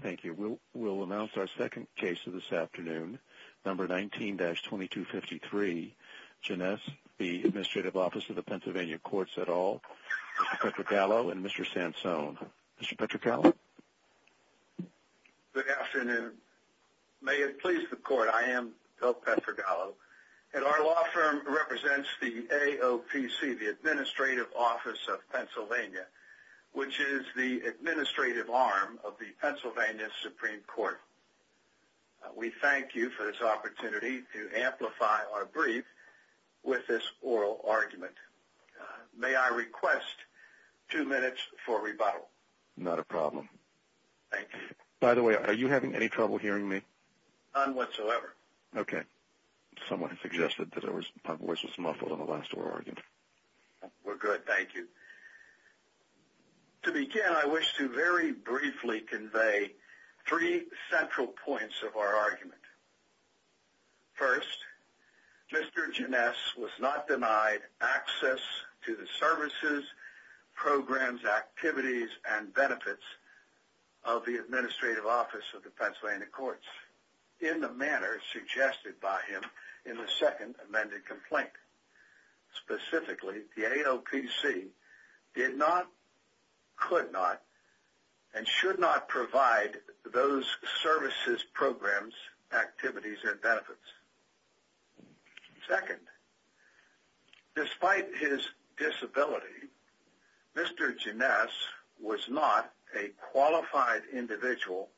Thank you. We'll announce our second case of this afternoon, number 19-2253. Geness v. Adm Office PA Courts et al., Mr. Petrogallo and Mr. Sansone. Mr. Petrogallo? Good afternoon. May it please the Court, I am Bill Petrogallo, and our law firm represents the AOPC, the Administrative Office of Pennsylvania, which is the administrative arm of the Pennsylvania Supreme Court. We thank you for this opportunity to amplify our brief with this oral argument. May I request two minutes for rebuttal? Not a problem. Thank you. By the way, are you having any trouble hearing me? None whatsoever. Okay. Someone suggested that my voice was muffled in the last oral argument. We're good. Thank you. To begin, I wish to very briefly convey three central points of our argument. First, Mr. Geness was not denied access to the services, programs, activities, and benefits of the Administrative Office of the Pennsylvania Courts in the manner suggested by him in the second amended complaint. Specifically, the AOPC did not, could not, and should not provide those services, programs, activities, and benefits. Second, despite his disability, Mr. Geness was not a qualified individual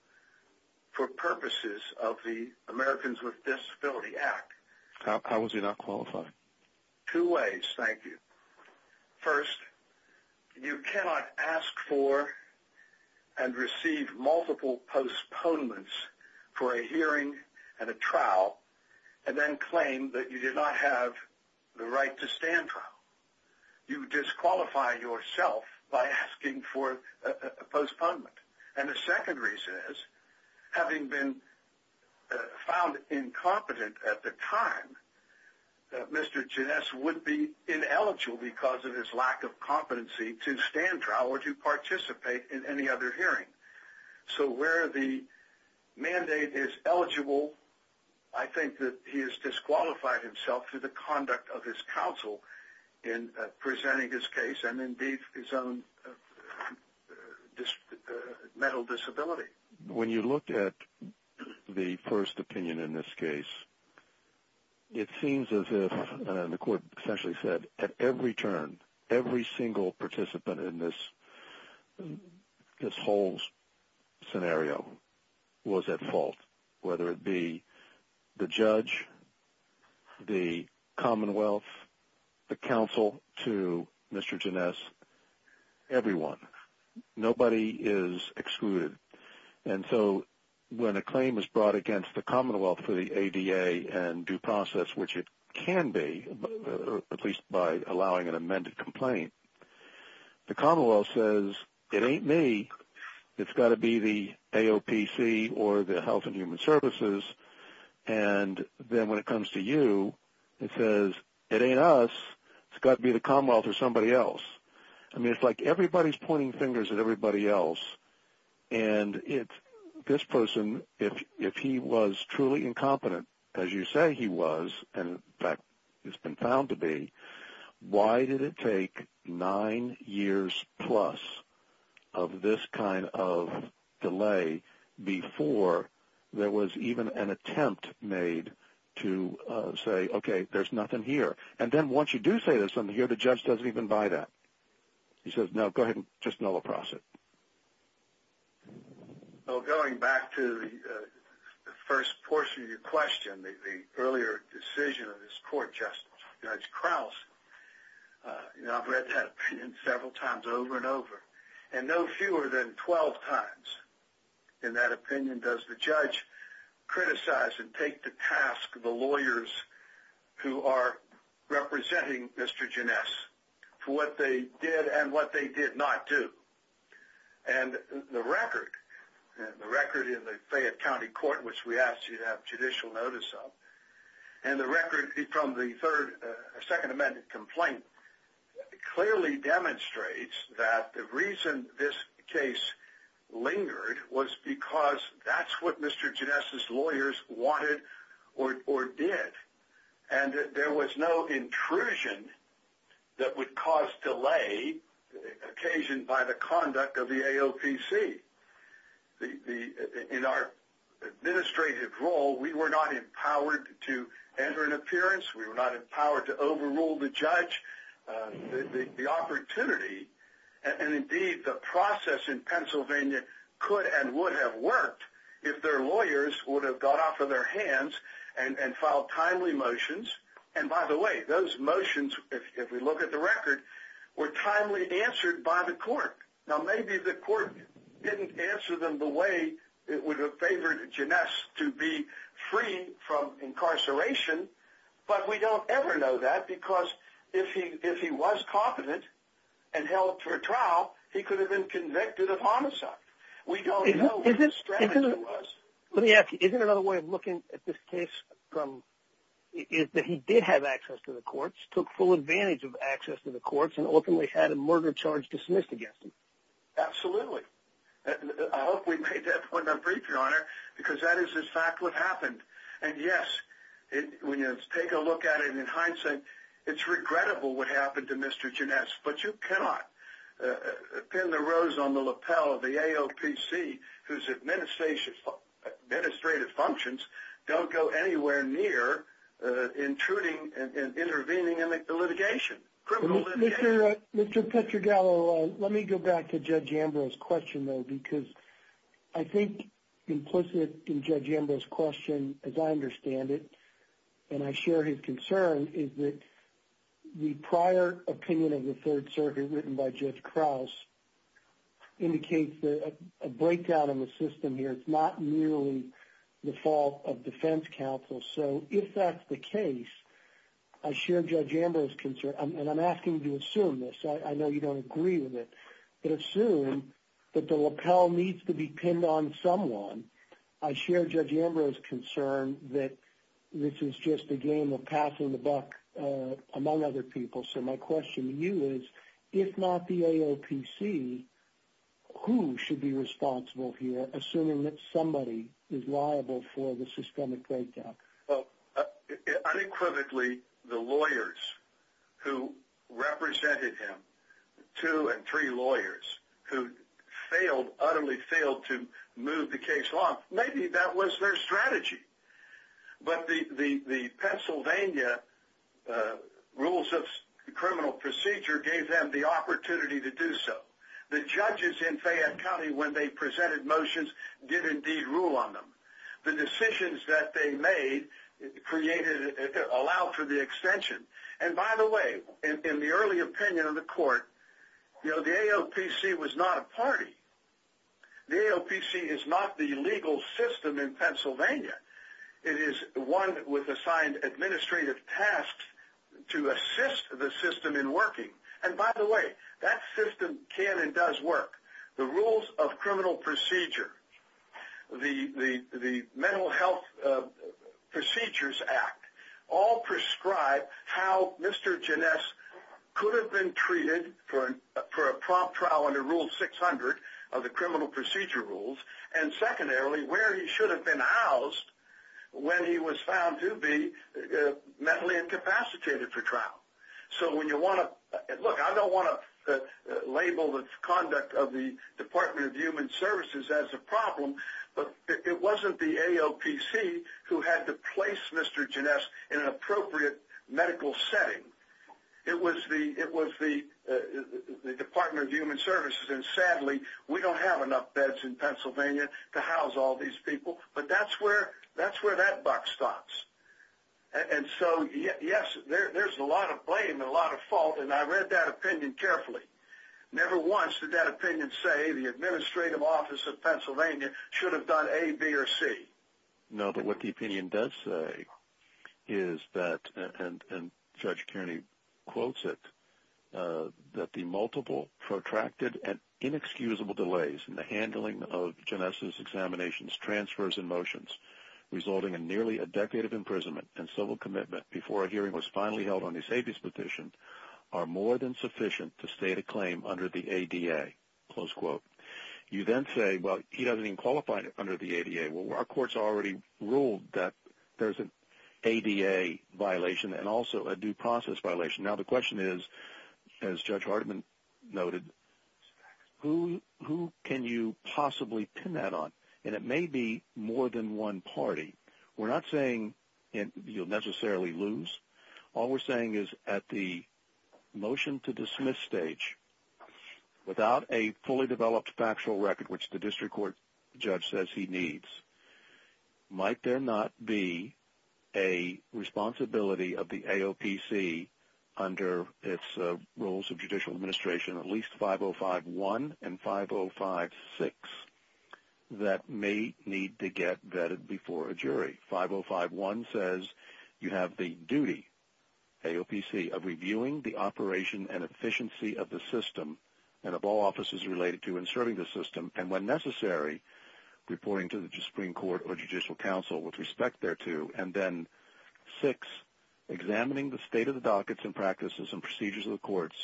for purposes of the Americans with Disabilities Act. How was he not qualified? Two ways, thank you. First, you cannot ask for and receive multiple postponements for a hearing and a trial and then claim that you did not have the right to stand trial. You disqualify yourself by asking for a postponement. And the second reason is, having been found incompetent at the time, Mr. Geness would be ineligible because of his lack of competency to stand trial or to participate in any other hearing. So where the mandate is eligible, I think that he has disqualified himself through the conduct of his counsel in presenting his case and indeed his own mental disability. When you look at the first opinion in this case, it seems as if, and the court essentially said, at every turn, every single participant in this whole scenario was at fault, whether it be the judge, the Commonwealth, the counsel to Mr. Geness, everyone. Nobody is excluded. And so when a claim is brought against the Commonwealth for the ADA and due process, which it can be, at least by allowing an amended complaint, the Commonwealth says, it ain't me, it's got to be the AOPC or the Health and Human Services. And then when it comes to you, it says, it ain't us, it's got to be the Commonwealth or somebody else. I mean, it's like everybody is pointing fingers at everybody else. And this person, if he was truly incompetent, as you say he was, and in fact has been found to be, why did it take nine years plus of this kind of delay before there was even an attempt made to say, okay, there's nothing here. And then once you do say there's something here, the judge doesn't even buy that. He says, no, go ahead and just nullify it. Well, going back to the first portion of your question, the earlier decision of this court, Justice Judge Krause, I've read that opinion several times over and over, and no fewer than 12 times in that opinion does the judge criticize and take the task of the lawyers who are representing Mr. Geness for what they did and what they did not do. And the record in the Fayette County Court, which we asked you to have judicial notice of, and the record from the Second Amendment complaint, clearly demonstrates that the reason this case lingered was because that's what Mr. Geness's lawyers wanted or did. And there was no intrusion that would cause delay occasioned by the conduct of the AOPC. In our administrative role, we were not empowered to enter an appearance. We were not empowered to overrule the judge. The opportunity and indeed the process in Pennsylvania could and would have worked if their lawyers would have got off of their hands and filed timely motions. And by the way, those motions, if we look at the record, were timely answered by the court. Now maybe the court didn't answer them the way it would have favored Geness to be free from incarceration, but we don't ever know that because if he was competent and held for trial, he could have been convicted of homicide. We don't know what the strategy was. Let me ask you, isn't another way of looking at this case is that he did have access to the courts, took full advantage of access to the courts, and ultimately had a murder charge dismissed against him? Absolutely. I hope we made that point on brief, Your Honor, because that is in fact what happened. And yes, when you take a look at it in hindsight, it's regrettable what happened to Mr. Geness, but you cannot pin the rose on the lapel of the AOPC whose administrative functions don't go anywhere near intruding and intervening in the litigation, criminal litigation. Mr. Petragallo, let me go back to Judge Ambrose's question, though, because I think implicit in Judge Ambrose's question, as I understand it, and I share his concern, is that the prior opinion of the Third Circuit written by Judge Krause indicates a breakdown in the system here. It's not merely the fault of defense counsel. So if that's the case, I share Judge Ambrose's concern, and I'm asking you to assume this. I know you don't agree with it, but assume that the lapel needs to be pinned on someone. I share Judge Ambrose's concern that this is just a game of passing the buck among other people. So my question to you is, if not the AOPC, who should be responsible here, assuming that somebody is liable for the systemic breakdown? Well, unequivocally, the lawyers who represented him, two and three lawyers, who failed, utterly failed to move the case along, maybe that was their strategy. But the Pennsylvania Rules of Criminal Procedure gave them the opportunity to do so. The judges in Fayette County, when they presented motions, did indeed rule on them. The decisions that they made created, allowed for the extension. And by the way, in the early opinion of the court, you know, the AOPC was not a party. The AOPC is not the legal system in Pennsylvania. It is one with assigned administrative tasks to assist the system in working. And by the way, that system can and does work. The Rules of Criminal Procedure, the Mental Health Procedures Act, all prescribe how Mr. Janess could have been treated for a prompt trial under Rule 600 of the Criminal Procedure Rules, and secondarily, where he should have been housed when he was found to be mentally incapacitated for trial. So when you want to, look, I don't want to label the conduct of the Department of Human Services as a problem, but it wasn't the AOPC who had to place Mr. Janess in an appropriate medical setting. It was the Department of Human Services, and sadly, we don't have enough beds in Pennsylvania to house all these people, but that's where that buck stops. And so, yes, there's a lot of blame and a lot of fault, and I read that opinion carefully. Never once did that opinion say the administrative office of Pennsylvania should have done A, B, or C. No, but what the opinion does say is that, and Judge Kearney quotes it, that the multiple protracted and inexcusable delays in the handling of Janess's examinations, transfers, and motions, resulting in nearly a decade of imprisonment and civil commitment before a hearing was finally held on his safety's petition, are more than sufficient to state a claim under the ADA, close quote. You then say, well, he doesn't even qualify under the ADA. Well, our courts already ruled that there's an ADA violation and also a due process violation. Now the question is, as Judge Hardiman noted, who can you possibly pin that on? And it may be more than one party. We're not saying you'll necessarily lose. All we're saying is at the motion to dismiss stage, without a fully developed factual record, which the district court judge says he needs, might there not be a responsibility of the AOPC under its rules of judicial administration, at least 5051 and 5056, that may need to get vetted before a jury. 5051 says you have the duty, AOPC, of reviewing the operation and efficiency of the system and of all offices related to and serving the system, and when necessary, reporting to the Supreme Court or Judicial Council with respect thereto. And then six, examining the state of the dockets and practices and procedures of the courts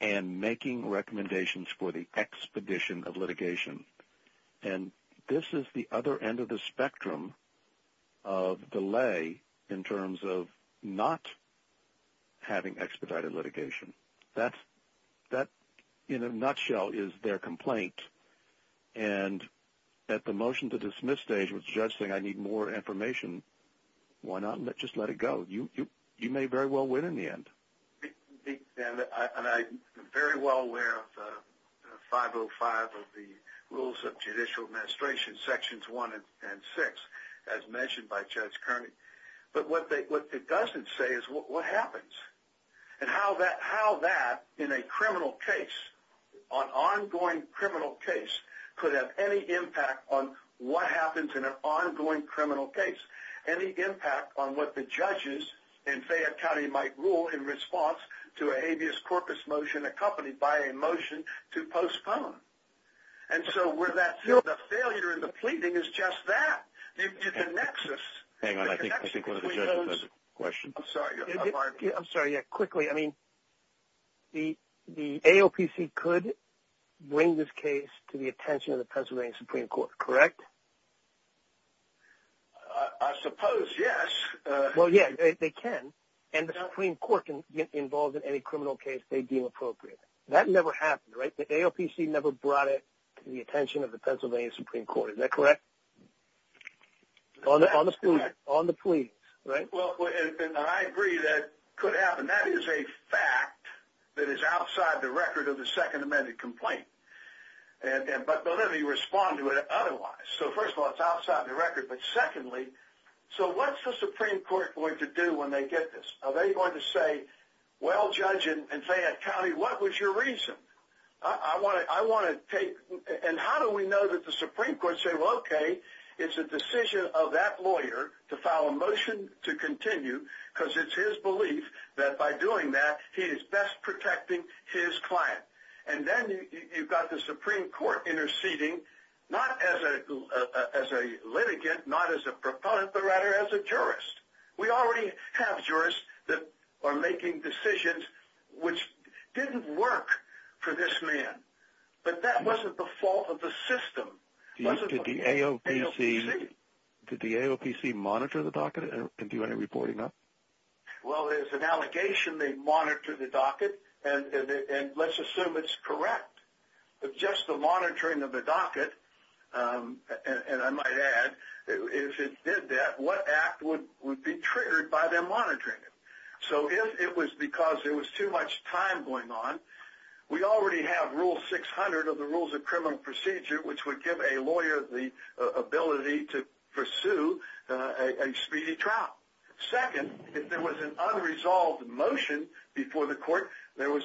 and making recommendations for the expedition of litigation. And this is the other end of the spectrum of delay in terms of not having expedited litigation. That, in a nutshell, is their complaint. And at the motion to dismiss stage, which the judge is saying I need more information, why not just let it go? You may very well win in the end. And I'm very well aware of 505 of the rules of judicial administration, Sections 1 and 6, as mentioned by Judge Kearney. But what it doesn't say is what happens and how that, in a criminal case, an ongoing criminal case, could have any impact on what happens in an ongoing criminal case, any impact on what the judges in Fayette County might rule in response to a habeas corpus motion accompanied by a motion to postpone. And so where that failure in the pleading is just that, the nexus. Hang on, I think one of the judges has a question. I'm sorry. Yeah, quickly. I mean, the AOPC could bring this case to the attention of the Pennsylvania Supreme Court, correct? I suppose, yes. Well, yeah, they can. And the Supreme Court can get involved in any criminal case they deem appropriate. That never happened, right? The AOPC never brought it to the attention of the Pennsylvania Supreme Court. Is that correct? On the plea, right? Well, and I agree that could happen. That is a fact that is outside the record of the Second Amended Complaint. But let me respond to it otherwise. So, first of all, it's outside the record. But secondly, so what's the Supreme Court going to do when they get this? Are they going to say, well, Judge, in Fayette County, what was your reason? I want to take – and how do we know that the Supreme Court said, well, okay, it's a decision of that lawyer to file a motion to continue because it's his belief that by doing that he is best protecting his client. And then you've got the Supreme Court interceding not as a litigant, not as a proponent, but rather as a jurist. We already have jurists that are making decisions which didn't work for this man. But that wasn't the fault of the system. Did the AOPC monitor the docket and do any reporting on it? Well, there's an allegation they monitored the docket, and let's assume it's correct. But just the monitoring of the docket, and I might add, if it did that, what act would be triggered by them monitoring it? So if it was because there was too much time going on, we already have Rule 600 of the Rules of Criminal Procedure, which would give a lawyer the ability to pursue a speedy trial. Second, if there was an unresolved motion before the court, there were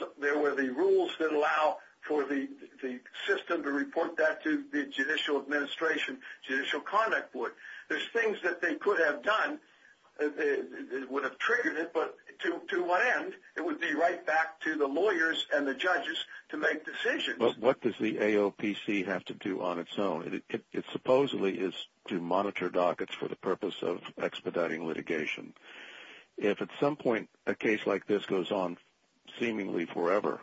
the rules that allow for the system to report that to the Judicial Administration, Judicial Conduct Board. There's things that they could have done that would have triggered it, but to what end? It would be right back to the lawyers and the judges to make decisions. But what does the AOPC have to do on its own? It supposedly is to monitor dockets for the purpose of expediting litigation. If at some point a case like this goes on seemingly forever,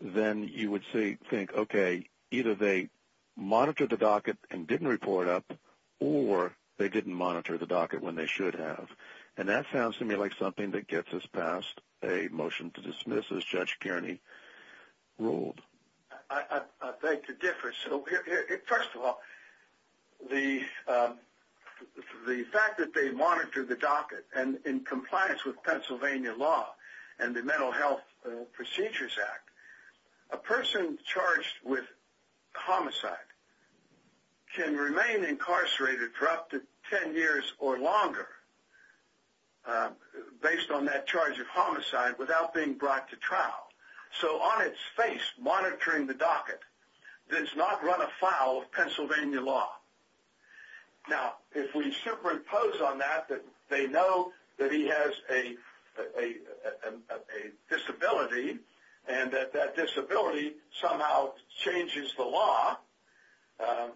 then you would think, okay, either they monitored the docket and didn't report up, or they didn't monitor the docket when they should have. And that sounds to me like something that gets us past a motion to dismiss, as Judge Kearney ruled. I beg to differ. First of all, the fact that they monitored the docket in compliance with Pennsylvania law and the Mental Health Procedures Act, a person charged with homicide can remain incarcerated for up to 10 years or longer based on that charge of homicide without being brought to trial. So on its face, monitoring the docket does not run afoul of Pennsylvania law. Now, if we superimpose on that that they know that he has a disability and that that disability somehow changes the law,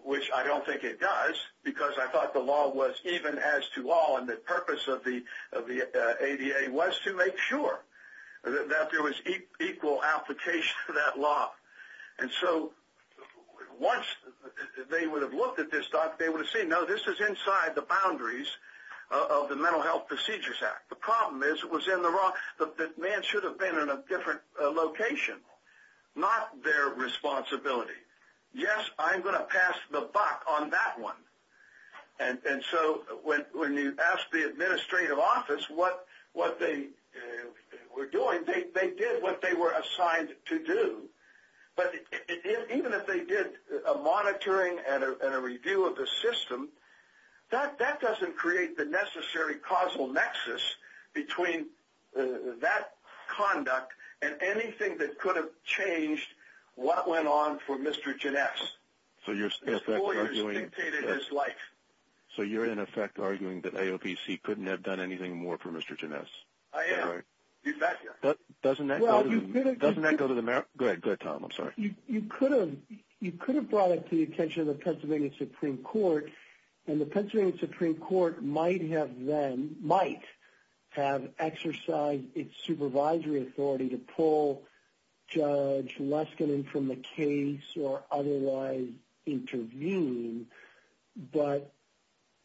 which I don't think it does because I thought the law was even as to all, the purpose of the ADA was to make sure that there was equal application to that law. And so once they would have looked at this docket, they would have seen, no, this is inside the boundaries of the Mental Health Procedures Act. The problem is it was in the wrong, the man should have been in a different location, not their responsibility. Yes, I'm going to pass the buck on that one. And so when you ask the administrative office what they were doing, they did what they were assigned to do. But even if they did a monitoring and a review of the system, that doesn't create the necessary causal nexus between that conduct and anything that could have changed what went on for Mr. Gines. So you're in effect arguing that AOPC couldn't have done anything more for Mr. Gines? I am. Doesn't that go to the, go ahead, Tom, I'm sorry. You could have brought it to the attention of the Pennsylvania Supreme Court, and the Pennsylvania Supreme Court might have then, might have exercised its supervisory authority to pull Judge Leskinen from the case or otherwise intervene. But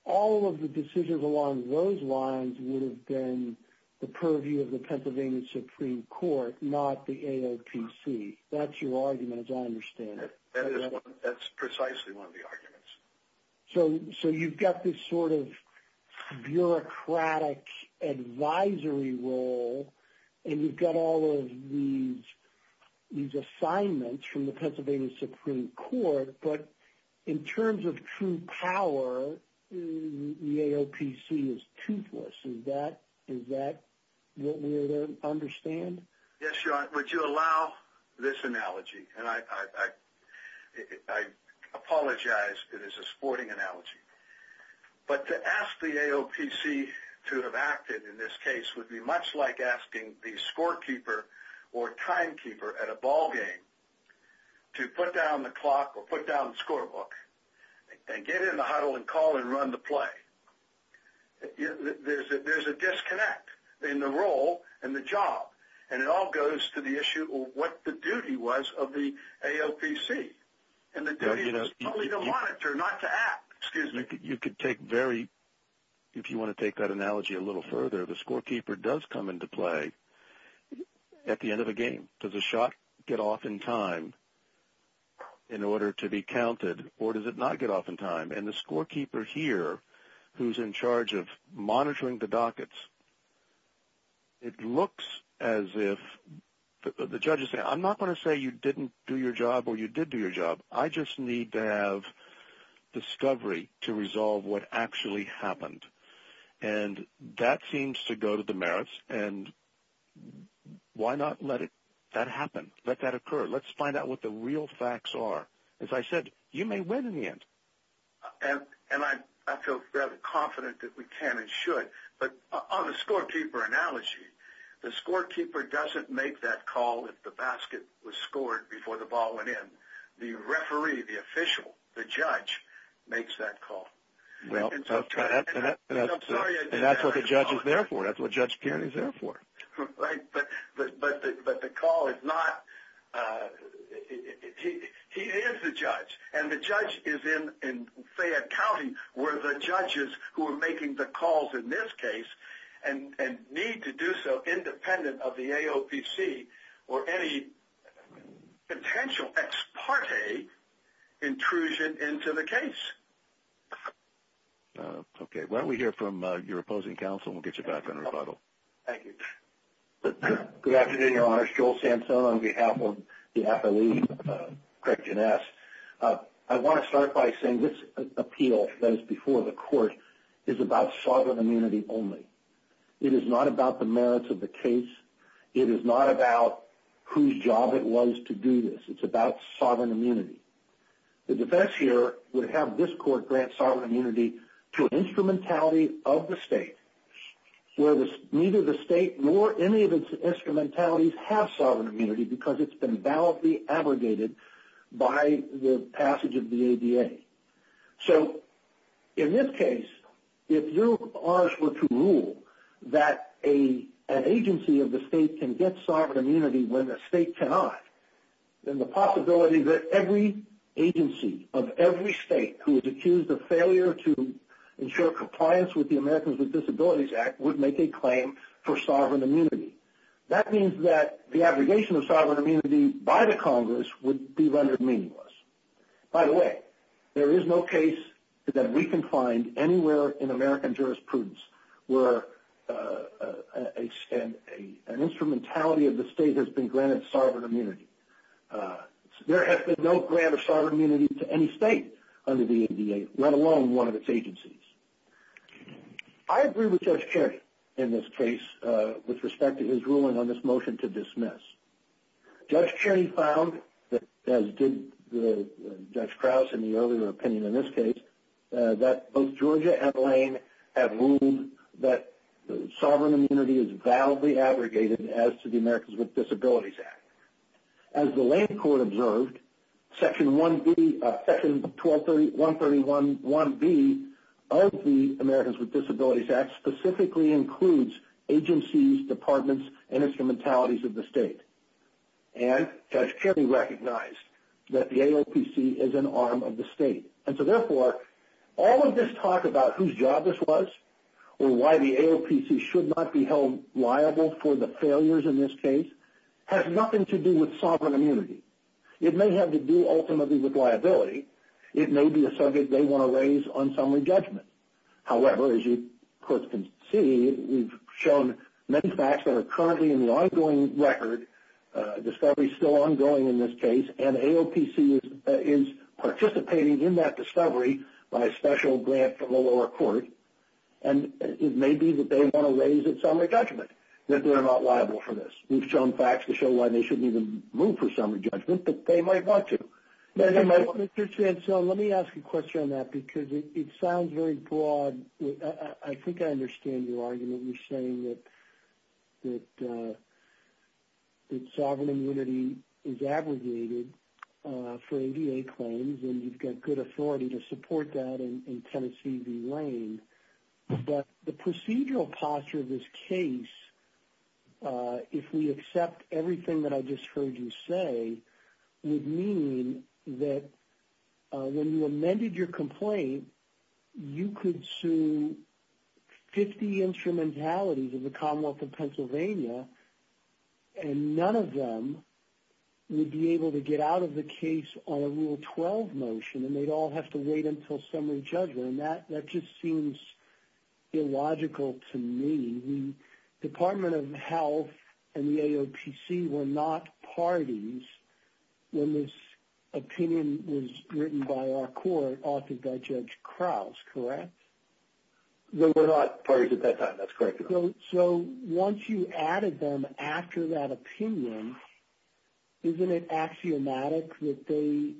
all of the decisions along those lines would have been the purview of the Pennsylvania Supreme Court, not the AOPC. That's your argument, as I understand it. That is one. That's precisely one of the arguments. So you've got this sort of bureaucratic advisory role, and you've got all of these assignments from the Pennsylvania Supreme Court. But in terms of true power, the AOPC is toothless. Is that what we're to understand? Yes, Your Honor. Would you allow this analogy? And I apologize. It is a sporting analogy. But to ask the AOPC to have acted in this case would be much like asking the scorekeeper or timekeeper at a ball game to put down the clock or put down the scorebook and get in the huddle and call and run the play. There's a disconnect in the role and the job. And it all goes to the issue of what the duty was of the AOPC. And the duty is only to monitor, not to act. Excuse me. If you want to take that analogy a little further, the scorekeeper does come into play at the end of a game. Does the shot get off in time in order to be counted, or does it not get off in time? And the scorekeeper here, who's in charge of monitoring the dockets, it looks as if the judge is saying, I'm not going to say you didn't do your job or you did do your job. I just need to have discovery to resolve what actually happened. And that seems to go to the merits. And why not let that happen, let that occur? Let's find out what the real facts are. As I said, you may win in the end. And I feel very confident that we can and should. But on the scorekeeper analogy, the scorekeeper doesn't make that call if the basket was scored before the ball went in. The referee, the official, the judge, makes that call. And that's what the judge is there for. That's what Judge Pierney is there for. But the call is not – he is the judge. And the judge is in Fayette County where the judges who are making the calls in this case and need to do so independent of the AOPC or any potential ex parte intrusion into the case. Why don't we hear from your opposing counsel and we'll get you back on rebuttal. Thank you. Good afternoon, Your Honor. Joel Santone on behalf of the appellee, Craig Janess. I want to start by saying this appeal that is before the court is about sovereign immunity only. It is not about the merits of the case. It is not about whose job it was to do this. It's about sovereign immunity. The defense here would have this court grant sovereign immunity to an instrumentality of the state where neither the state nor any of its instrumentalities have sovereign immunity because it's been validly abrogated by the passage of the ADA. So in this case, if you, Your Honor, were to rule that an agency of the state can get sovereign immunity when a state cannot, then the possibility that every agency of every state who is accused of failure to ensure compliance with the Americans with Disabilities Act would make a claim for sovereign immunity. That means that the abrogation of sovereign immunity by the Congress would be rendered meaningless. By the way, there is no case that we can find anywhere in American jurisprudence where an instrumentality of the state has been granted sovereign immunity. There has been no grant of sovereign immunity to any state under the ADA, let alone one of its agencies. I agree with Judge Charney in this case with respect to his ruling on this motion to dismiss. Judge Charney found, as did Judge Krause in the earlier opinion in this case, that both Georgia and Lane have ruled that sovereign immunity is validly abrogated as to the Americans with Disabilities Act. As the Lane Court observed, Section 131B of the Americans with Disabilities Act specifically includes agencies, departments, and instrumentalities of the state. And Judge Charney recognized that the AOPC is an arm of the state. And so therefore, all of this talk about whose job this was or why the AOPC should not be held liable for the failures in this case has nothing to do with sovereign immunity. It may have to do ultimately with liability. It may be a subject they want to raise on summary judgment. However, as you, of course, can see, we've shown many facts that are currently in the ongoing record, discovery is still ongoing in this case, and AOPC is participating in that discovery by a special grant from the lower court. And it may be that they want to raise a summary judgment that they're not liable for this. We've shown facts that show why they shouldn't even move for summary judgment, but they might want to. Let me ask a question on that because it sounds very broad. I think I understand your argument in saying that sovereign immunity is aggregated for ABA claims and you've got good authority to support that in Tennessee v. Lane. But the procedural posture of this case, if we accept everything that I just heard you say, would mean that when you amended your complaint, you could sue 50 instrumentalities of the Commonwealth of Pennsylvania and none of them would be able to get out of the case on a Rule 12 motion, and they'd all have to wait until summary judgment. And that just seems illogical to me. The Department of Health and the AOPC were not parties when this opinion was written by our court, authored by Judge Krause, correct? They were not parties at that time. That's correct. So once you added them after that opinion, isn't it axiomatic that they,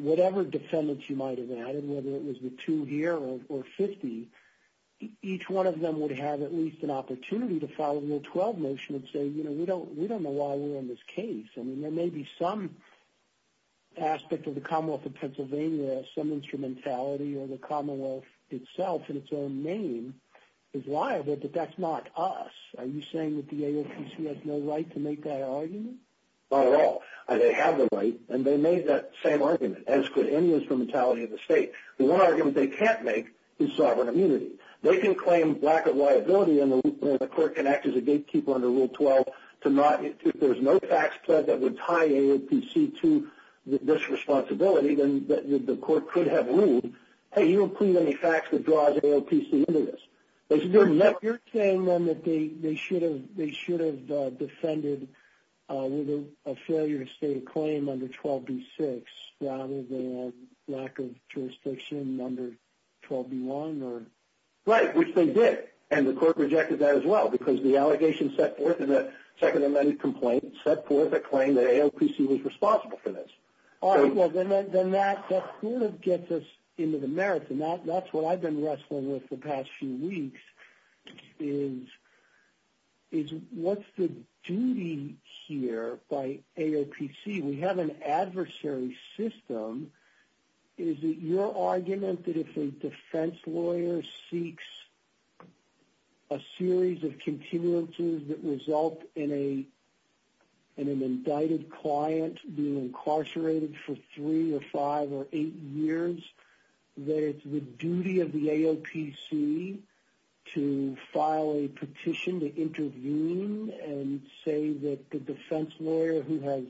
whatever defendants you might have added, whether it was the two here or 50, each one of them would have at least an opportunity to follow the Rule 12 motion and say, you know, we don't know why we're in this case. I mean, there may be some aspect of the Commonwealth of Pennsylvania that has some instrumentality or the Commonwealth itself in its own name is liable, but that's not us. Are you saying that the AOPC has no right to make that argument? Not at all. They have the right, and they made that same argument, as could any instrumentality of the state. The one argument they can't make is sovereign immunity. They can claim lack of liability, and the court can act as a gatekeeper under Rule 12 to not, if there's no facts that would tie AOPC to this responsibility, then the court could have ruled, hey, you don't put any facts that draws AOPC into this. You're saying then that they should have defended with a failure to state a claim under 12b-6 rather than lack of jurisdiction under 12b-1? Right, which they did, and the court rejected that as well because the allegation set forth in the Second Amendment complaint set forth a claim that AOPC was responsible for this. All right, well, then that sort of gets us into the merits, and that's what I've been wrestling with the past few weeks is what's the duty here by AOPC? We have an adversary system. Is it your argument that if a defense lawyer seeks a series of continuances that result in an indicted client being incarcerated for three or five or eight years, that it's the duty of the AOPC to file a petition to intervene and say that the defense lawyer who has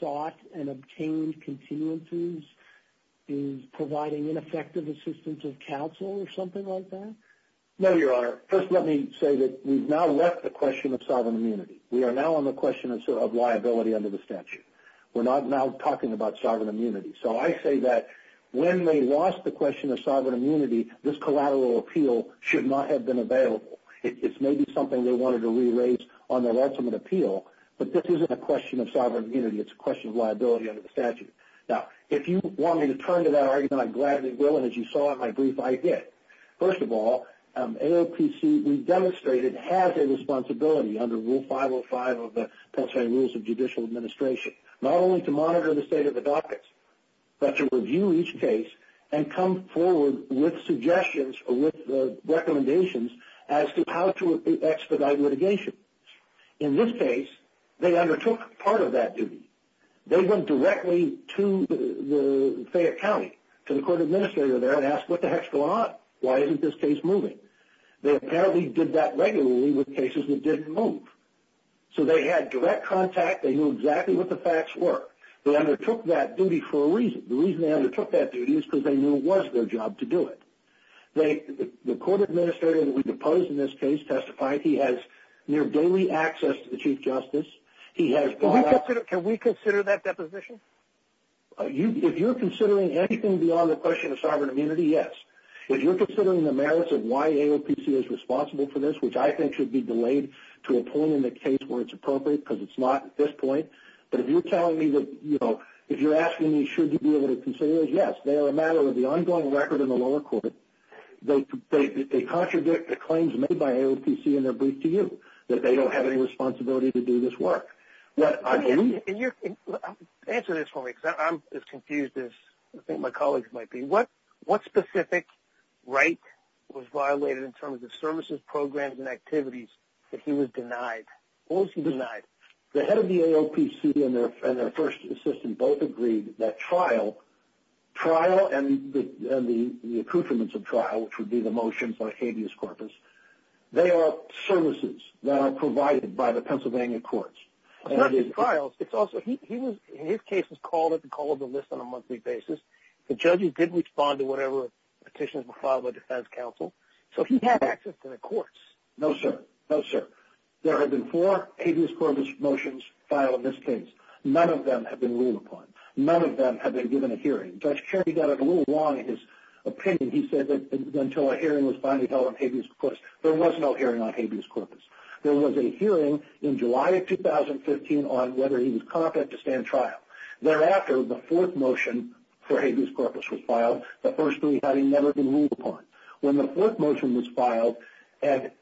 sought and obtained continuances is providing ineffective assistance of counsel or something like that? No, Your Honor. First, let me say that we've now left the question of sovereign immunity. We are now on the question of liability under the statute. We're not now talking about sovereign immunity. So I say that when they lost the question of sovereign immunity, this collateral appeal should not have been available. It's maybe something they wanted to re-raise on their ultimate appeal, but this isn't a question of sovereign immunity. It's a question of liability under the statute. Now, if you want me to turn to that argument, I gladly will, and as you saw in my brief, I did. First of all, AOPC, we've demonstrated, has a responsibility under Rule 505 of the Pennsylvania Rules of Judicial Administration not only to monitor the state of the dockets, but to review each case and come forward with suggestions or with recommendations as to how to expedite litigation. In this case, they undertook part of that duty. They went directly to Fayette County, to the court administrator there, and asked what the heck's going on? Why isn't this case moving? They apparently did that regularly with cases that didn't move. So they had direct contact. They knew exactly what the facts were. They undertook that duty for a reason. The reason they undertook that duty is because they knew it was their job to do it. The court administrator that we deposed in this case testified he has near daily access to the Chief Justice. Can we consider that deposition? If you're considering anything beyond the question of sovereign immunity, yes. If you're considering the merits of why AOPC is responsible for this, which I think should be delayed to a point in the case where it's appropriate, because it's not at this point, but if you're asking me should you be able to consider those, yes. They are a matter of the ongoing record in the lower court. They contradict the claims made by AOPC in their brief to you, that they don't have any responsibility to do this work. Answer this for me because I'm as confused as I think my colleagues might be. What specific right was violated in terms of services, programs, and activities that he was denied? What was he denied? The head of the AOPC and their first assistant both agreed that trial and the accoutrements of trial, which would be the motions on habeas corpus, they are services that are provided by the Pennsylvania courts. It's not just trials. In his case, he was called at the call of the list on a monthly basis. The judges didn't respond to whatever petitions were filed by defense counsel. So he had access to the courts. No, sir. No, sir. There have been four habeas corpus motions filed in this case. None of them have been ruled upon. None of them have been given a hearing. Judge Kennedy got it a little long in his opinion. He said that until a hearing was finally held on habeas corpus, there was no hearing on habeas corpus. There was a hearing in July of 2015 on whether he was competent to stand trial. Thereafter, the fourth motion for habeas corpus was filed, the first three having never been ruled upon. When the fourth motion was filed after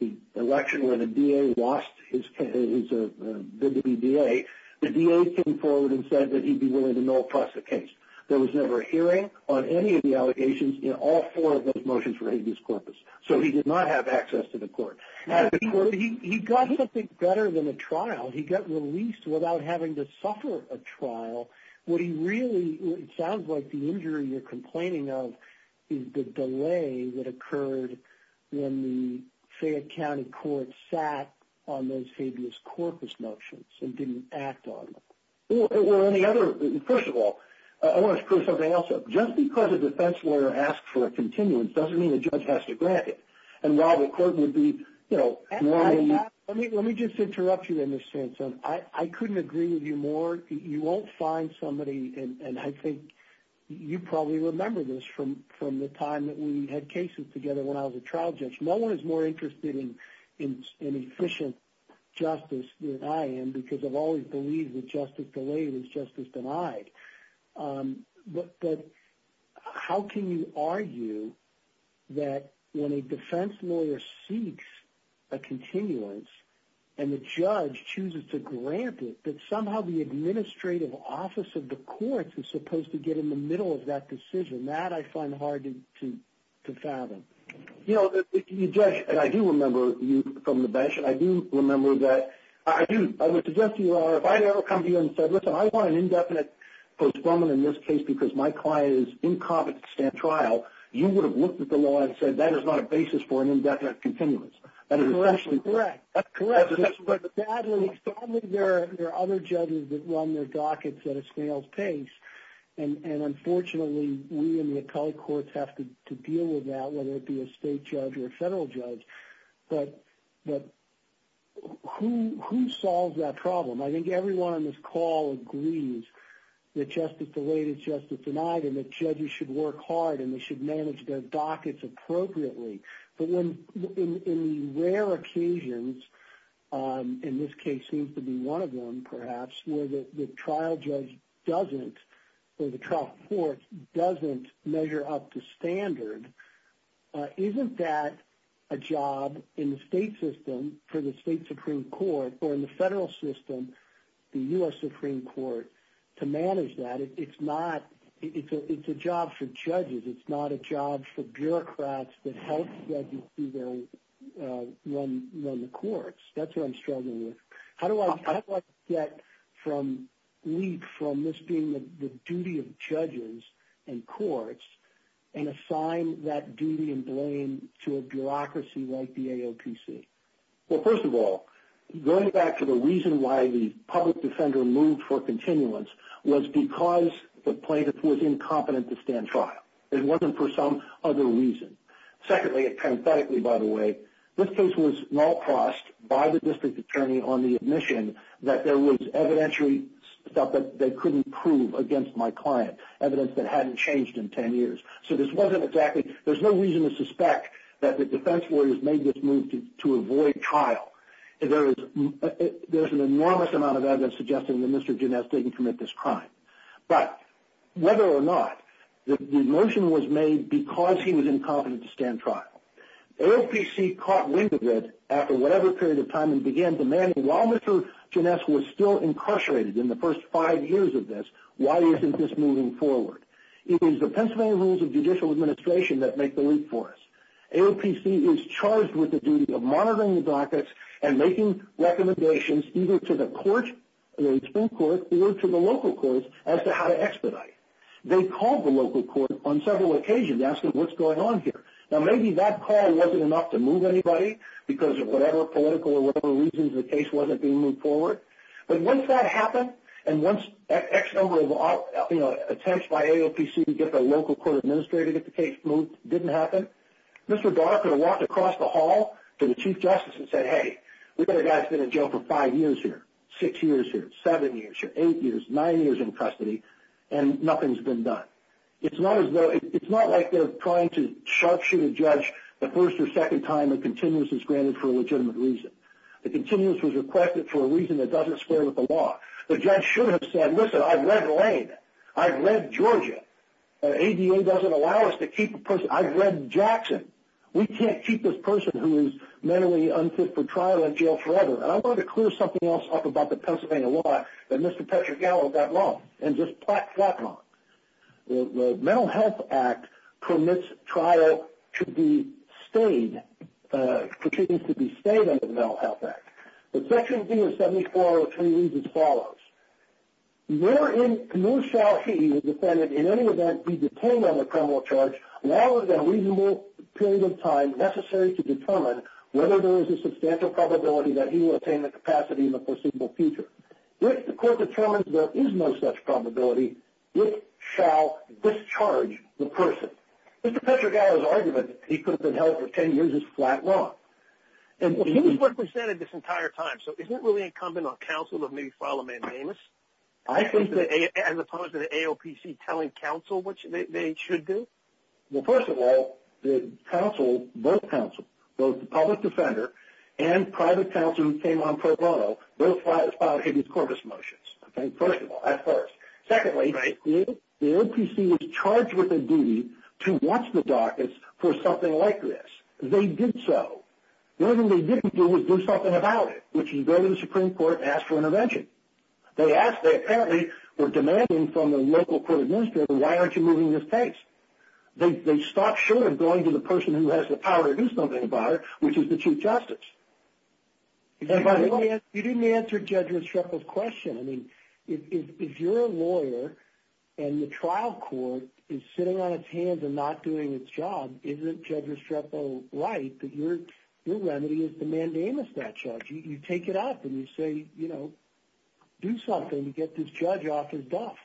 the election when the DA lost his bid to be DA, the DA came forward and said that he'd be willing to no-appross the case. There was never a hearing on any of the allegations in all four of those motions for habeas corpus. So he did not have access to the court. He got something better than a trial. He got released without having to suffer a trial. It sounds like the injury you're complaining of is the delay that occurred when the Fayette County Court sat on those habeas corpus motions and didn't act on them. First of all, I want to put something else up. Just because a defense lawyer asks for a continuance doesn't mean a judge has to grant it. Let me just interrupt you there, Ms. Sansone. I couldn't agree with you more. You won't find somebody, and I think you probably remember this from the time that we had cases together when I was a trial judge. No one is more interested in efficient justice than I am because I've always believed that justice delayed is justice denied. But how can you argue that when a defense lawyer seeks a continuance and the judge chooses to grant it, that somehow the administrative office of the courts is supposed to get in the middle of that decision? That I find hard to fathom. You know, you judge, and I do remember you from the bench, and I do remember that I would suggest to you, if I had ever come to you and said, listen, I want an indefinite postponement in this case because my client is incompetent to stand trial, you would have looked at the law and said, that is not a basis for an indefinite continuance. That's correct. But sadly, there are other judges that run their dockets at a snail's pace, and unfortunately we in the appellate courts have to deal with that, whether it be a state judge or a federal judge. But who solves that problem? I think everyone on this call agrees that justice delayed is justice denied and that judges should work hard and they should manage their dockets appropriately. But in the rare occasions, in this case seems to be one of them perhaps, where the trial judge doesn't or the trial court doesn't measure up to standard, isn't that a job in the state system for the state Supreme Court or in the federal system, the U.S. Supreme Court, to manage that? It's a job for judges. It's not a job for bureaucrats that help judges run the courts. That's what I'm struggling with. How do I get from this being the duty of judges and courts and assign that duty and blame to a bureaucracy like the AOPC? Well, first of all, going back to the reason why the public defender moved for continuance was because the plaintiff was incompetent to stand trial. It wasn't for some other reason. Secondly, and parenthetically, by the way, this case was null crossed by the district attorney on the admission that there was evidentiary stuff that they couldn't prove against my client, evidence that hadn't changed in ten years. So there's no reason to suspect that the defense lawyers made this move to avoid trial. There's an enormous amount of evidence suggesting that Mr. Gines didn't commit this crime. But whether or not the motion was made because he was incompetent to stand trial, AOPC caught wind of it after whatever period of time and began demanding while Mr. Gines was still incarcerated in the first five years of this, why isn't this moving forward? It was the Pennsylvania rules of judicial administration that make the leap for us. AOPC is charged with the duty of monitoring the dockets and making recommendations either to the Supreme Court or to the local courts as to how to expedite. They called the local court on several occasions asking what's going on here. Now maybe that call wasn't enough to move anybody because of whatever political or whatever reasons the case wasn't being moved forward, but once that happened and once X number of attempts by AOPC to get the local court administrator to get the case moved didn't happen, Mr. Garner could have walked across the hall to the Chief Justice and said, hey, we've got a guy that's been in jail for five years here, six years here, seven years here, eight years, nine years in custody, and nothing's been done. It's not like they're trying to sharpshoot a judge the first or second time a continuous is granted for a legitimate reason. The continuous was requested for a reason that doesn't square with the law. The judge should have said, listen, I've read Lane. I've read Georgia. ADA doesn't allow us to keep a person. I've read Jackson. We can't keep this person who is mentally unfit for trial in jail forever. And I wanted to clear something else up about the Pennsylvania law that Mr. Petra Gallo got wrong and just plop, plop on it. The Mental Health Act permits trial to be stayed, proceedings to be stayed under the Mental Health Act. But Section D of 7403 reads as follows. Wherein no shall he, the defendant, in any event be detained on a criminal charge longer than a reasonable period of time necessary to determine whether there is a substantial probability that he will attain the capacity in the foreseeable future. If the court determines there is no such probability, it shall discharge the person. Mr. Petra Gallo's argument that he could have been held for ten years is flat wrong. He's represented this entire time. So isn't it really incumbent on counsel to maybe file a mandamus? As opposed to the AOPC telling counsel what they should do? Well, first of all, the counsel, both counsel, both the public defender and private counsel who came on pro bono, both filed Higgy's Corpus motions at first. Secondly, the AOPC was charged with a duty to watch the dockets for something like this. They did so. The only thing they didn't do was do something about it, which is go to the Supreme Court and ask for intervention. They apparently were demanding from the local court administrator, why aren't you moving this case? They stopped short of going to the person who has the power to do something about it, which is the Chief Justice. You didn't answer Judge Restrepo's question. I mean, if you're a lawyer and the trial court is sitting on its hands and not doing its job, isn't Judge Restrepo right that your remedy is to mandamus that charge? You take it off and you say, you know, do something to get this judge off his duff.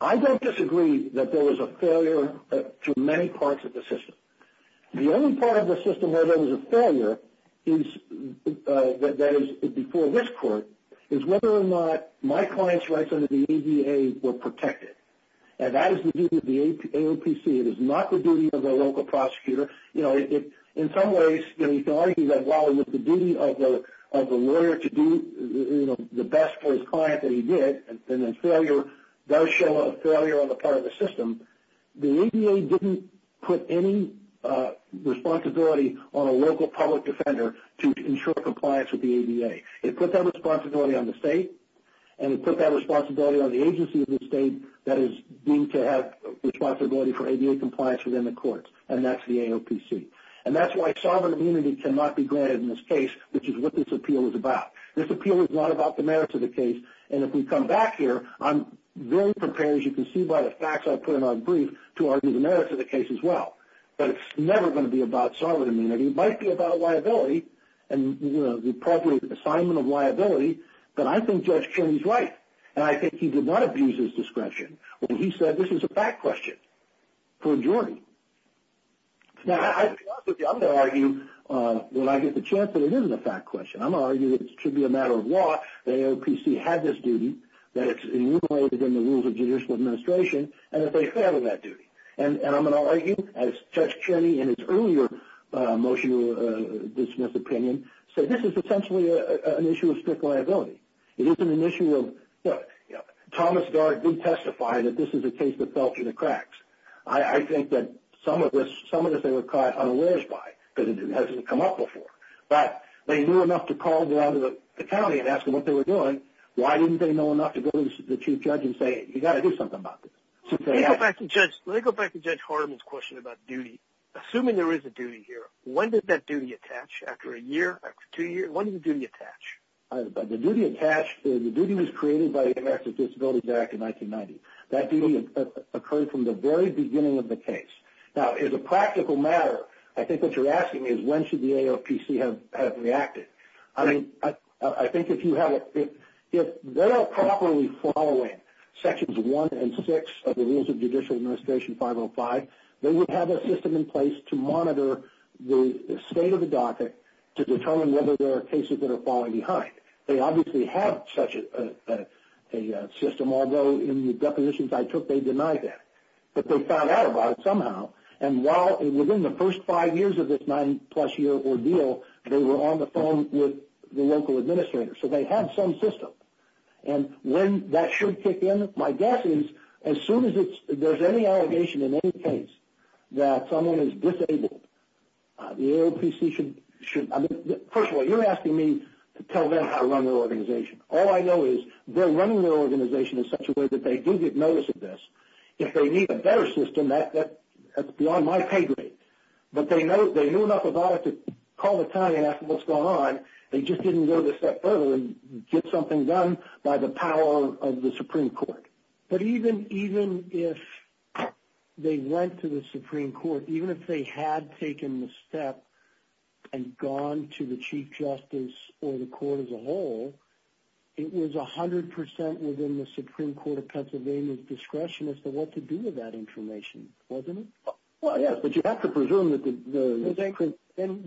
I don't disagree that there was a failure to many parts of the system. The only part of the system where there was a failure, that is, before this court, is whether or not my client's rights under the ADA were protected. And that is the duty of the AOPC. It is not the duty of the local prosecutor. In some ways you can argue that while it is the duty of the lawyer to do the best for his client that he did, and then failure does show a failure on the part of the system, the ADA didn't put any responsibility on a local public defender to ensure compliance with the ADA. It put that responsibility on the state, and it put that responsibility on the agency of the state that is deemed to have responsibility for ADA compliance within the courts, and that's the AOPC. And that's why sovereign immunity cannot be granted in this case, which is what this appeal is about. This appeal is not about the merits of the case. And if we come back here, I'm very prepared, as you can see by the facts I put in our brief, to argue the merits of the case as well. But it's never going to be about sovereign immunity. It might be about liability and the appropriate assignment of liability, but I think Judge Kearney is right, and I think he did not abuse his discretion when he said this is a fact question for a jury. Now, I'm going to argue when I get the chance that it isn't a fact question. I'm going to argue that it should be a matter of law that AOPC had this duty, that it's enumerated in the rules of judicial administration, and that they fail in that duty. And I'm going to argue, as Judge Kearney in his earlier motion dismissed opinion, that this is essentially an issue of strict liability. It isn't an issue of, you know, Thomas Gard did testify that this is a case that fell through the cracks. I think that some of this they were caught unawares by because it hasn't come up before. But they knew enough to call down to the county and ask them what they were doing, why didn't they know enough to go to the chief judge and say, you've got to do something about this? Let me go back to Judge Hardiman's question about duty. Assuming there is a duty here, when did that duty attach? After a year? After two years? When did the duty attach? The duty attached, the duty was created by the Americans with Disabilities Act in 1990. That duty occurred from the very beginning of the case. Now, as a practical matter, I think what you're asking is when should the AOPC have reacted? I mean, I think if you have it, if they're not properly following Sections 1 and 6 of the rules of judicial administration, Section 505, they would have a system in place to monitor the state of the docket to determine whether there are cases that are falling behind. They obviously have such a system, although in the depositions I took they denied that. But they found out about it somehow. And while within the first five years of this nine-plus-year ordeal, they were on the phone with the local administrator. So they have some system. And when that should kick in, my guess is as soon as there's any allegation in any case that someone is disabled, the AOPC should, first of all, you're asking me to tell them how to run their organization. All I know is they're running their organization in such a way that they do get notice of this. If they need a better system, that's beyond my pay grade. But they knew enough about it to call the county and ask what's going on. They just didn't go the step further and get something done by the power of the Supreme Court. But even if they went to the Supreme Court, even if they had taken the step and gone to the Chief Justice or the court as a whole, it was 100% within the Supreme Court of Pennsylvania's discretion as to what to do with that information, wasn't it? Well, yes, but you have to presume that the Supreme Court. Then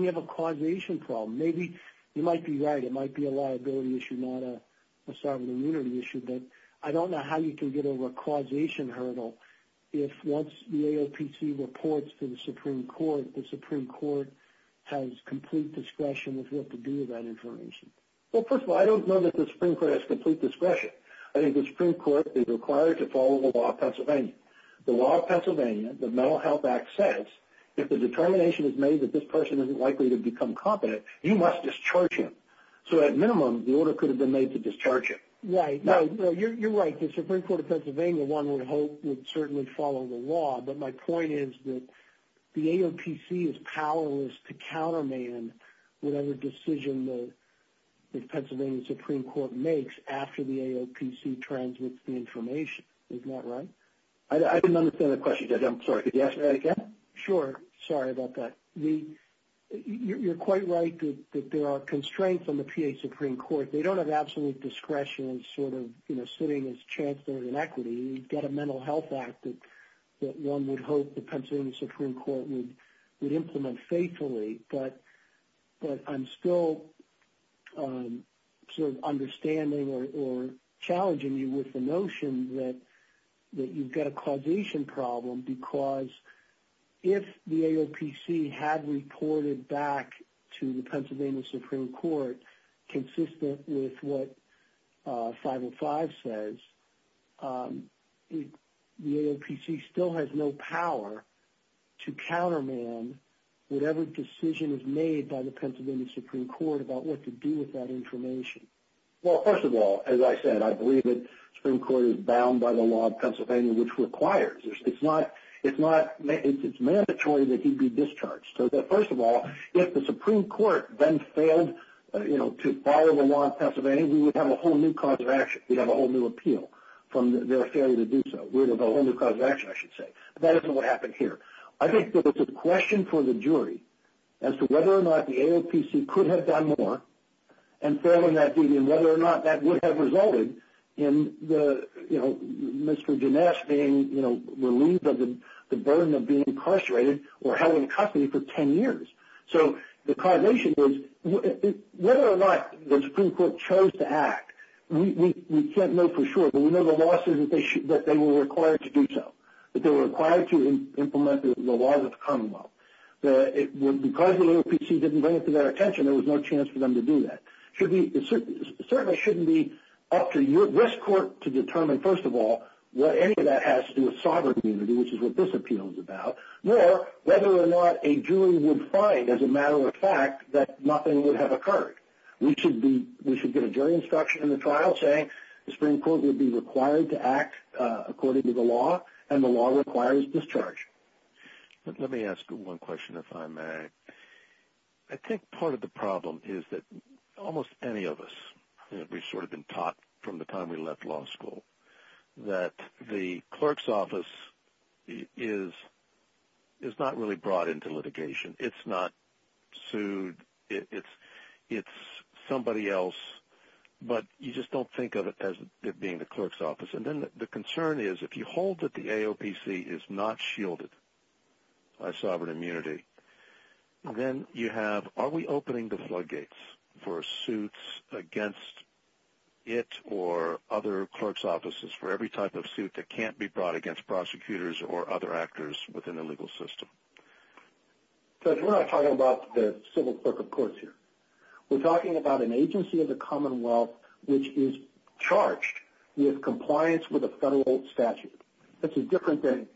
you have a causation problem. Maybe you might be right. It might be a liability issue, not a sovereign immunity issue. But I don't know how you can get over a causation hurdle if once the AOPC reports to the Supreme Court, the Supreme Court has complete discretion as to what to do with that information. Well, first of all, I don't know that the Supreme Court has complete discretion. The law of Pennsylvania, the Mental Health Act says if the determination is made that this person isn't likely to become competent, you must discharge him. So at minimum, the order could have been made to discharge him. Right. You're right. The Supreme Court of Pennsylvania, one would hope, would certainly follow the law. But my point is that the AOPC is powerless to counterman whatever decision the Pennsylvania Supreme Court makes after the AOPC transmits the information. Isn't that right? I didn't understand the question. I'm sorry. Could you ask that again? Sure. Sorry about that. You're quite right that there are constraints on the PA Supreme Court. They don't have absolute discretion in sort of sitting as chancellor in equity. You've got a Mental Health Act that one would hope the Pennsylvania Supreme Court would implement faithfully. But I'm still sort of understanding or challenging you with the notion that you've got a causation problem because if the AOPC had reported back to the Pennsylvania Supreme Court consistent with what 505 says, the AOPC still has no power to counterman whatever decision is made by the Pennsylvania Supreme Court about what to do with that information. Well, first of all, as I said, I believe that the Supreme Court is bound by the law of Pennsylvania, which requires. It's mandatory that he be discharged. So first of all, if the Supreme Court then failed to follow the law of Pennsylvania, we would have a whole new cause of action. We'd have a whole new appeal from their failure to do so. We'd have a whole new cause of action, I should say. That isn't what happened here. I think that it's a question for the jury as to whether or not the AOPC could have done more in failing that duty and whether or not that would have resulted in Mr. Ginesse being relieved of the burden of being incarcerated or held in custody for 10 years. So the causation is whether or not the Supreme Court chose to act, we can't know for sure. But we know the law says that they were required to do so, that they were required to implement the laws of the Commonwealth. Because the AOPC didn't bring it to their attention, there was no chance for them to do that. It certainly shouldn't be up to West Court to determine, first of all, what any of that has to do with sovereign immunity, which is what this appeal is about, nor whether or not a jury would find, as a matter of fact, that nothing would have occurred. We should get a jury instruction in the trial saying the Supreme Court would be required to act according to the law, and the law requires discharge. Let me ask one question, if I may. I think part of the problem is that almost any of us, we've sort of been taught from the time we left law school, that the clerk's office is not really brought into litigation. It's not sued. It's somebody else. But you just don't think of it as it being the clerk's office. And then the concern is, if you hold that the AOPC is not shielded by sovereign immunity, then you have, are we opening the floodgates for suits against it or other clerk's offices, for every type of suit that can't be brought against prosecutors or other actors within the legal system? Judge, we're not talking about the civil clerk of courts here. We're talking about an agency of the Commonwealth which is charged with compliance with a federal statute. That's a different thing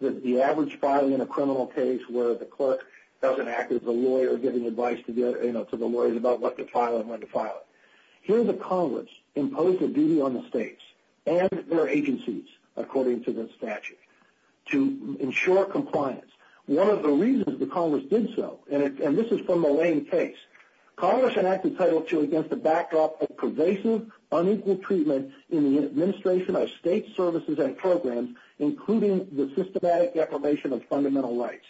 than the average filing in a criminal case where the clerk doesn't act as the lawyer, giving advice to the lawyers about what to file and when to file it. Here the Congress imposed a duty on the states and their agencies, according to the statute, to ensure compliance. One of the reasons the Congress did so, and this is from the Lane case, Congress enacted Title II against the backdrop of pervasive, unequal treatment in the administration of state services and programs, including the systematic deprivation of fundamental rights.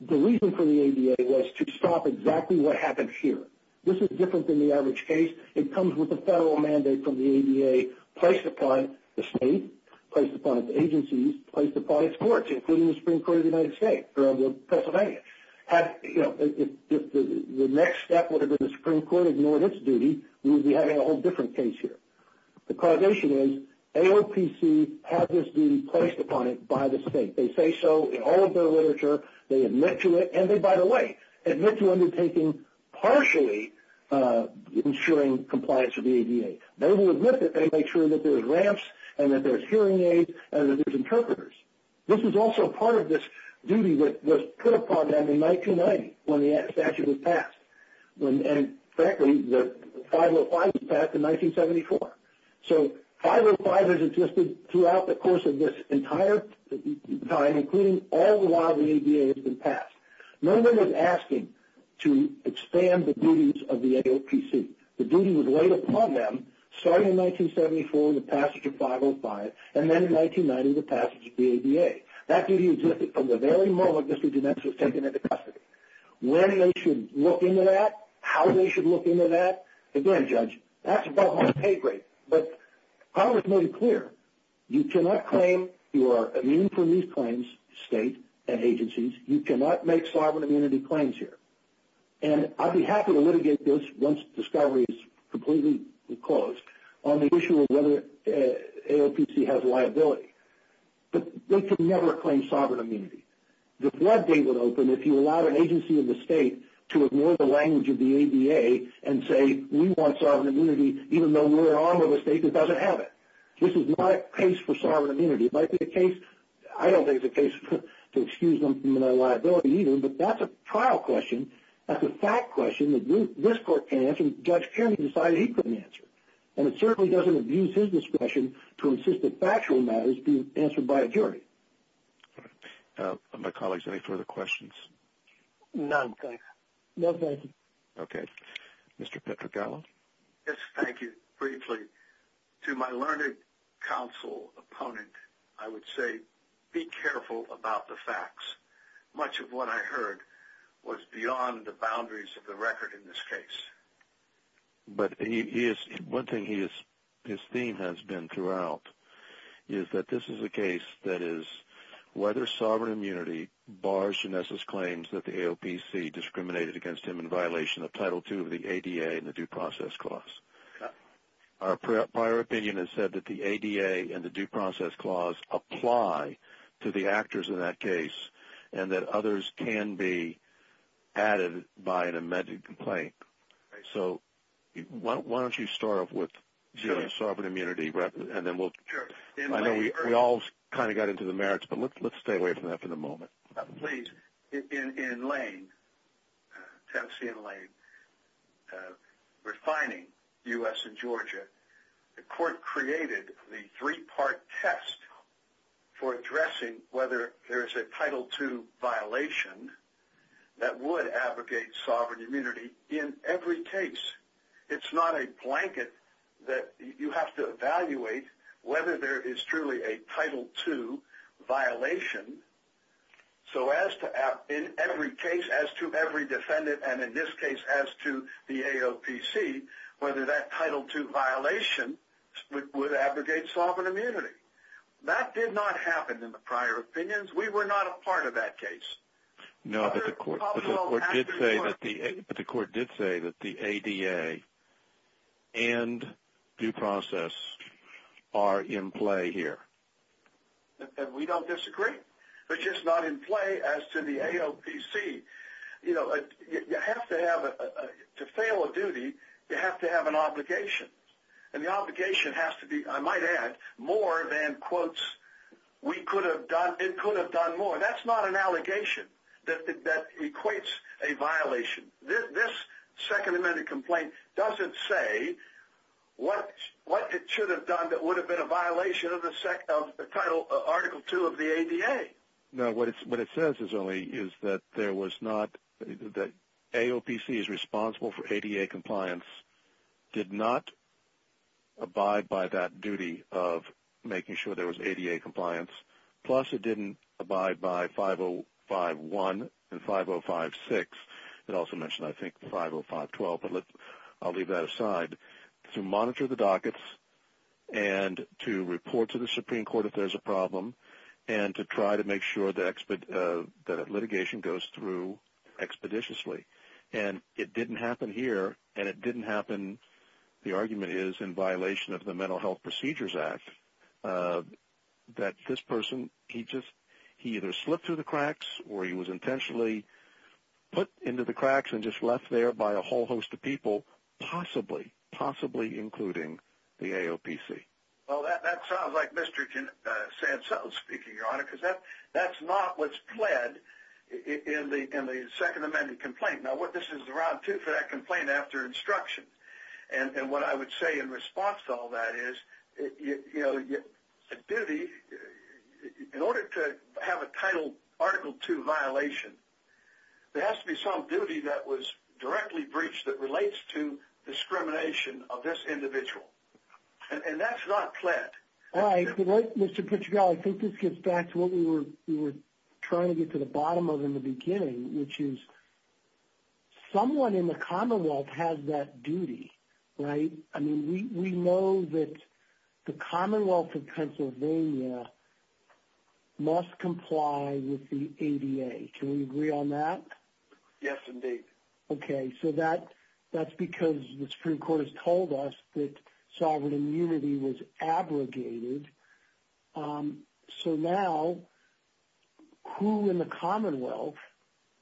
The reason for the ADA was to stop exactly what happened here. This is different than the average case. It comes with a federal mandate from the ADA placed upon the state, placed upon its agencies, placed upon its courts, including the Supreme Court of the United States or of Pennsylvania. If the next step would have been the Supreme Court ignoring its duty, we would be having a whole different case here. The causation is AOPC had this duty placed upon it by the state. They say so in all of their literature. They admit to it, and they, by the way, admit to undertaking partially ensuring compliance with the ADA. They will admit that they make sure that there's ramps and that there's hearing aids and that there's interpreters. This is also part of this duty that was put upon them in 1990 when the statute was passed. And frankly, the 505 was passed in 1974. So 505 has existed throughout the course of this entire time, including all the while the ADA has been passed. No one was asking to expand the duties of the AOPC. The duty was laid upon them starting in 1974 in the passage of 505 and then in 1990 in the passage of the ADA. That duty existed from the very moment Mr. Ginesse was taken into custody. When they should look into that, how they should look into that, again, Judge, that's above my pay grade. But Congress made it clear you cannot claim you are immune from these claims, state and agencies. You cannot make sovereign immunity claims here. And I'd be happy to litigate this once discovery is completely closed on the issue of whether AOPC has liability. But they could never claim sovereign immunity. The floodgate would open if you allowed an agency in the state to ignore the language of the ADA and say, we want sovereign immunity even though we're an arm of a state that doesn't have it. This is not a case for sovereign immunity. It might be a case, I don't think it's a case to excuse them from their liability either, but that's a trial question. That's a fact question that this court can't answer and Judge Kiernan decided he couldn't answer. And it certainly doesn't abuse his discretion to insist that factual matters be answered by a jury. All right. My colleagues, any further questions? None, thank you. No, thank you. Okay. Mr. Petragallo? Yes, thank you. Briefly, to my learned counsel opponent, I would say be careful about the facts. Much of what I heard was beyond the boundaries of the record in this case. But one thing his theme has been throughout is that this is a case that is whether sovereign immunity bars Genesis' claims that the AOPC discriminated against him in violation of Title II of the ADA and the Due Process Clause. Our prior opinion has said that the ADA and the Due Process Clause apply to the actors in that case and that others can be added by an amended complaint. So why don't you start off with sovereign immunity and then we'll – Sure. I know we all kind of got into the merits, but let's stay away from that for the moment. Please. In Lane, Tennessee and Lane, refining U.S. and Georgia, the court created the three-part test for addressing whether there is a Title II violation that would abrogate sovereign immunity in every case. It's not a blanket that you have to evaluate whether there is truly a Title II violation. So as to – in every case, as to every defendant, and in this case as to the AOPC, whether that Title II violation would abrogate sovereign immunity. That did not happen in the prior opinions. We were not a part of that case. No, but the court did say that the ADA and due process are in play here. We don't disagree. It's just not in play as to the AOPC. You know, you have to have – to fail a duty, you have to have an obligation. And the obligation has to be, I might add, more than, quotes, we could have done – it could have done more. That's not an allegation that equates a violation. This Second Amendment complaint doesn't say what it should have done that would have been a violation of the Title – Article II of the ADA. No, what it says is only is that there was not – that AOPC is responsible for ADA compliance, did not abide by that duty of making sure there was ADA compliance. Plus, it didn't abide by 5051 and 5056. It also mentioned, I think, 50512, but I'll leave that aside. To monitor the dockets and to report to the Supreme Court if there's a problem and to try to make sure that litigation goes through expeditiously. And it didn't happen here, and it didn't happen, the argument is, in violation of the Mental Health Procedures Act, that this person, he just – he either slipped through the cracks or he was intentionally put into the cracks and just left there by a whole host of people, possibly, possibly including the AOPC. Well, that sounds like Mr. Santos speaking, Your Honor, because that's not what's pled in the Second Amendment complaint. Now, this is round two for that complaint after instruction. And what I would say in response to all that is, you know, a duty – in order to have a Title II violation, there has to be some duty that was directly breached that relates to discrimination of this individual. And that's not pled. All right. Mr. Portugal, I think this gets back to what we were trying to get to the bottom of in the beginning, which is someone in the Commonwealth has that duty, right? I mean, we know that the Commonwealth of Pennsylvania must comply with the ADA. Can we agree on that? Yes, indeed. Okay. So that's because the Supreme Court has told us that sovereign immunity was abrogated. So now who in the Commonwealth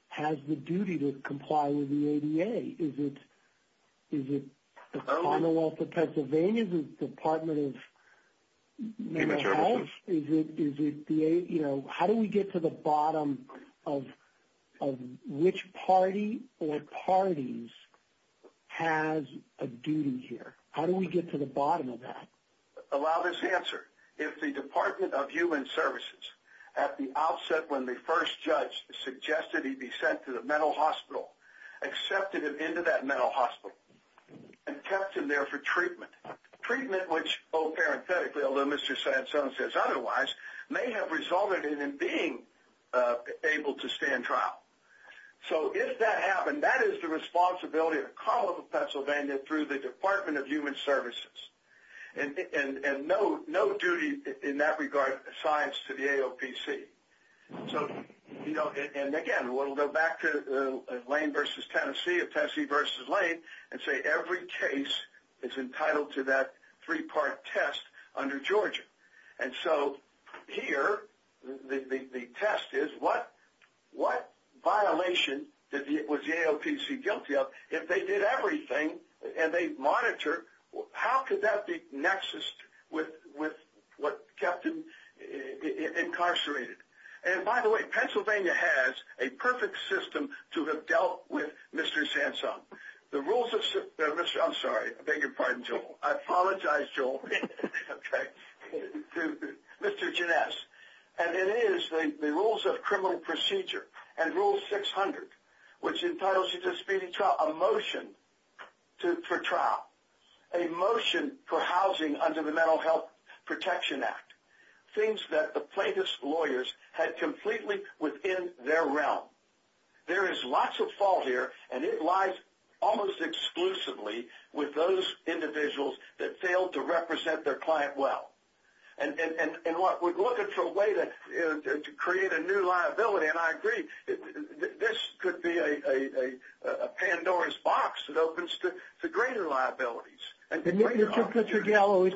has the duty to comply with the ADA? Is it the Commonwealth of Pennsylvania, the Department of Mental Health? Is it the – you know, how do we get to the bottom of which party or parties has a duty here? How do we get to the bottom of that? Allow this answer. If the Department of Human Services, at the outset when the first judge suggested he be sent to the mental hospital, accepted him into that mental hospital and kept him there for treatment, treatment which, parenthetically, although Mr. Sanzone says otherwise, may have resulted in him being able to stay in trial. So if that happened, that is the responsibility of the Commonwealth of Pennsylvania through the Department of Human Services. And no duty in that regard asides to the AOPC. So, you know, and again, we'll go back to Lane v. Tennessee or Tennessee v. Lane and say every case is entitled to that three-part test under Georgia. And so here the test is what violation was the AOPC guilty of? If they did everything and they monitored, how could that be nexus with what kept him incarcerated? And, by the way, Pennsylvania has a perfect system to have dealt with Mr. Sanzone. The rules of – I'm sorry. I beg your pardon, Joel. I apologize, Joel. Okay. Mr. Ginesse. And it is the rules of criminal procedure and Rule 600, which entitles you to speeding trial, a motion for trial, a motion for housing under the Mental Health Protection Act, things that the plaintiff's lawyers had completely within their realm. There is lots of fault here, and it lies almost exclusively with those individuals that failed to represent their client well. And we're looking for a way to create a new liability, and I agree. This could be a Pandora's box that opens to greater liabilities and greater opportunities. Mr. Gallo, is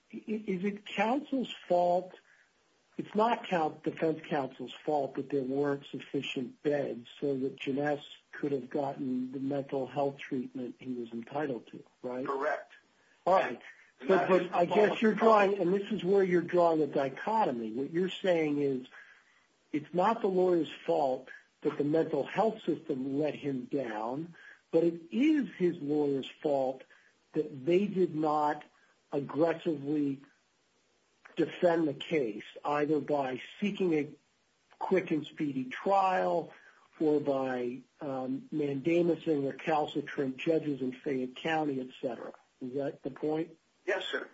it counsel's fault – it's not defense counsel's fault that there weren't sufficient beds so that Ginesse could have gotten the mental health treatment he was entitled to, right? Correct. All right. But I guess you're drawing – and this is where you're drawing a dichotomy. What you're saying is it's not the lawyer's fault that the mental health system let him down, but it is his lawyer's fault that they did not aggressively defend the case, either by seeking a quick and speedy trial or by mandamusing or calcitering judges in Fayette County, et cetera. Is that the point? Yes, sir.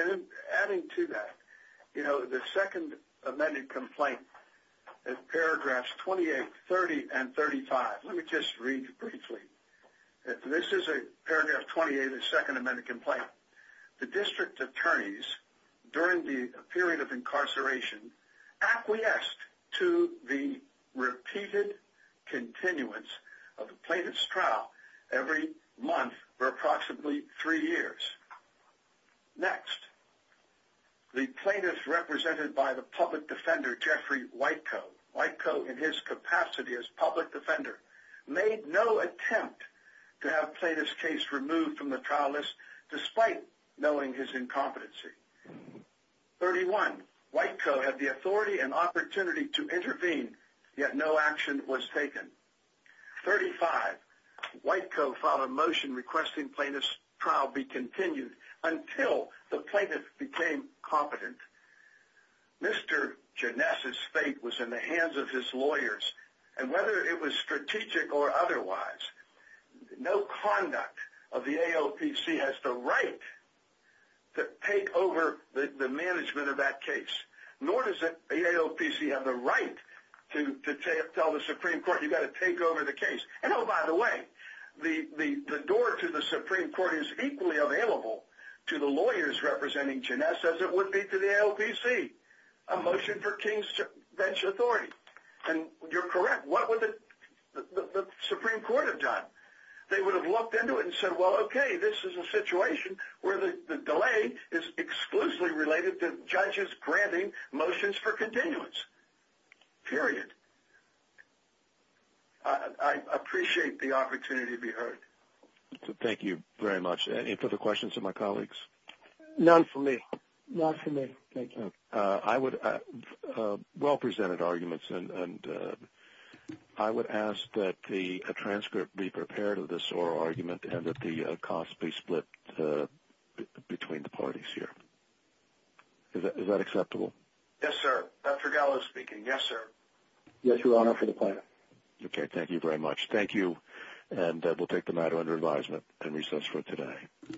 And adding to that, you know, the second amended complaint, in paragraphs 28, 30, and 35 – let me just read briefly. This is paragraph 28 of the second amended complaint. The district attorneys, during the period of incarceration, acquiesced to the repeated continuance of the plaintiff's trial every month for approximately three years. Next. The plaintiff, represented by the public defender, Jeffrey Whitecoe – Whitecoe in his capacity as public defender – to have plaintiff's case removed from the trial list despite knowing his incompetency. Thirty-one. Whitecoe had the authority and opportunity to intervene, yet no action was taken. Thirty-five. Whitecoe filed a motion requesting plaintiff's trial be continued until the plaintiff became competent. Mr. Janess's fate was in the hands of his lawyers, and whether it was strategic or otherwise, no conduct of the AOPC has the right to take over the management of that case, nor does the AOPC have the right to tell the Supreme Court, you've got to take over the case. And oh, by the way, the door to the Supreme Court is equally available to the lawyers representing Janess as it would be to the AOPC, a motion for King's bench authority. And you're correct. What would the Supreme Court have done? They would have looked into it and said, well, okay, this is a situation where the delay is exclusively related to judges granting motions for continuance. Period. I appreciate the opportunity to be heard. Thank you very much. Any further questions of my colleagues? None for me. None for me. Thank you. Well-presented arguments, and I would ask that the transcript be prepared of this oral argument and that the cost be split between the parties here. Is that acceptable? Yes, sir. Dr. Gallo speaking. Yes, sir. Yes, Your Honor, for the plaintiff. Okay. Thank you very much. Thank you. And we'll take the matter under advisement and recess for today.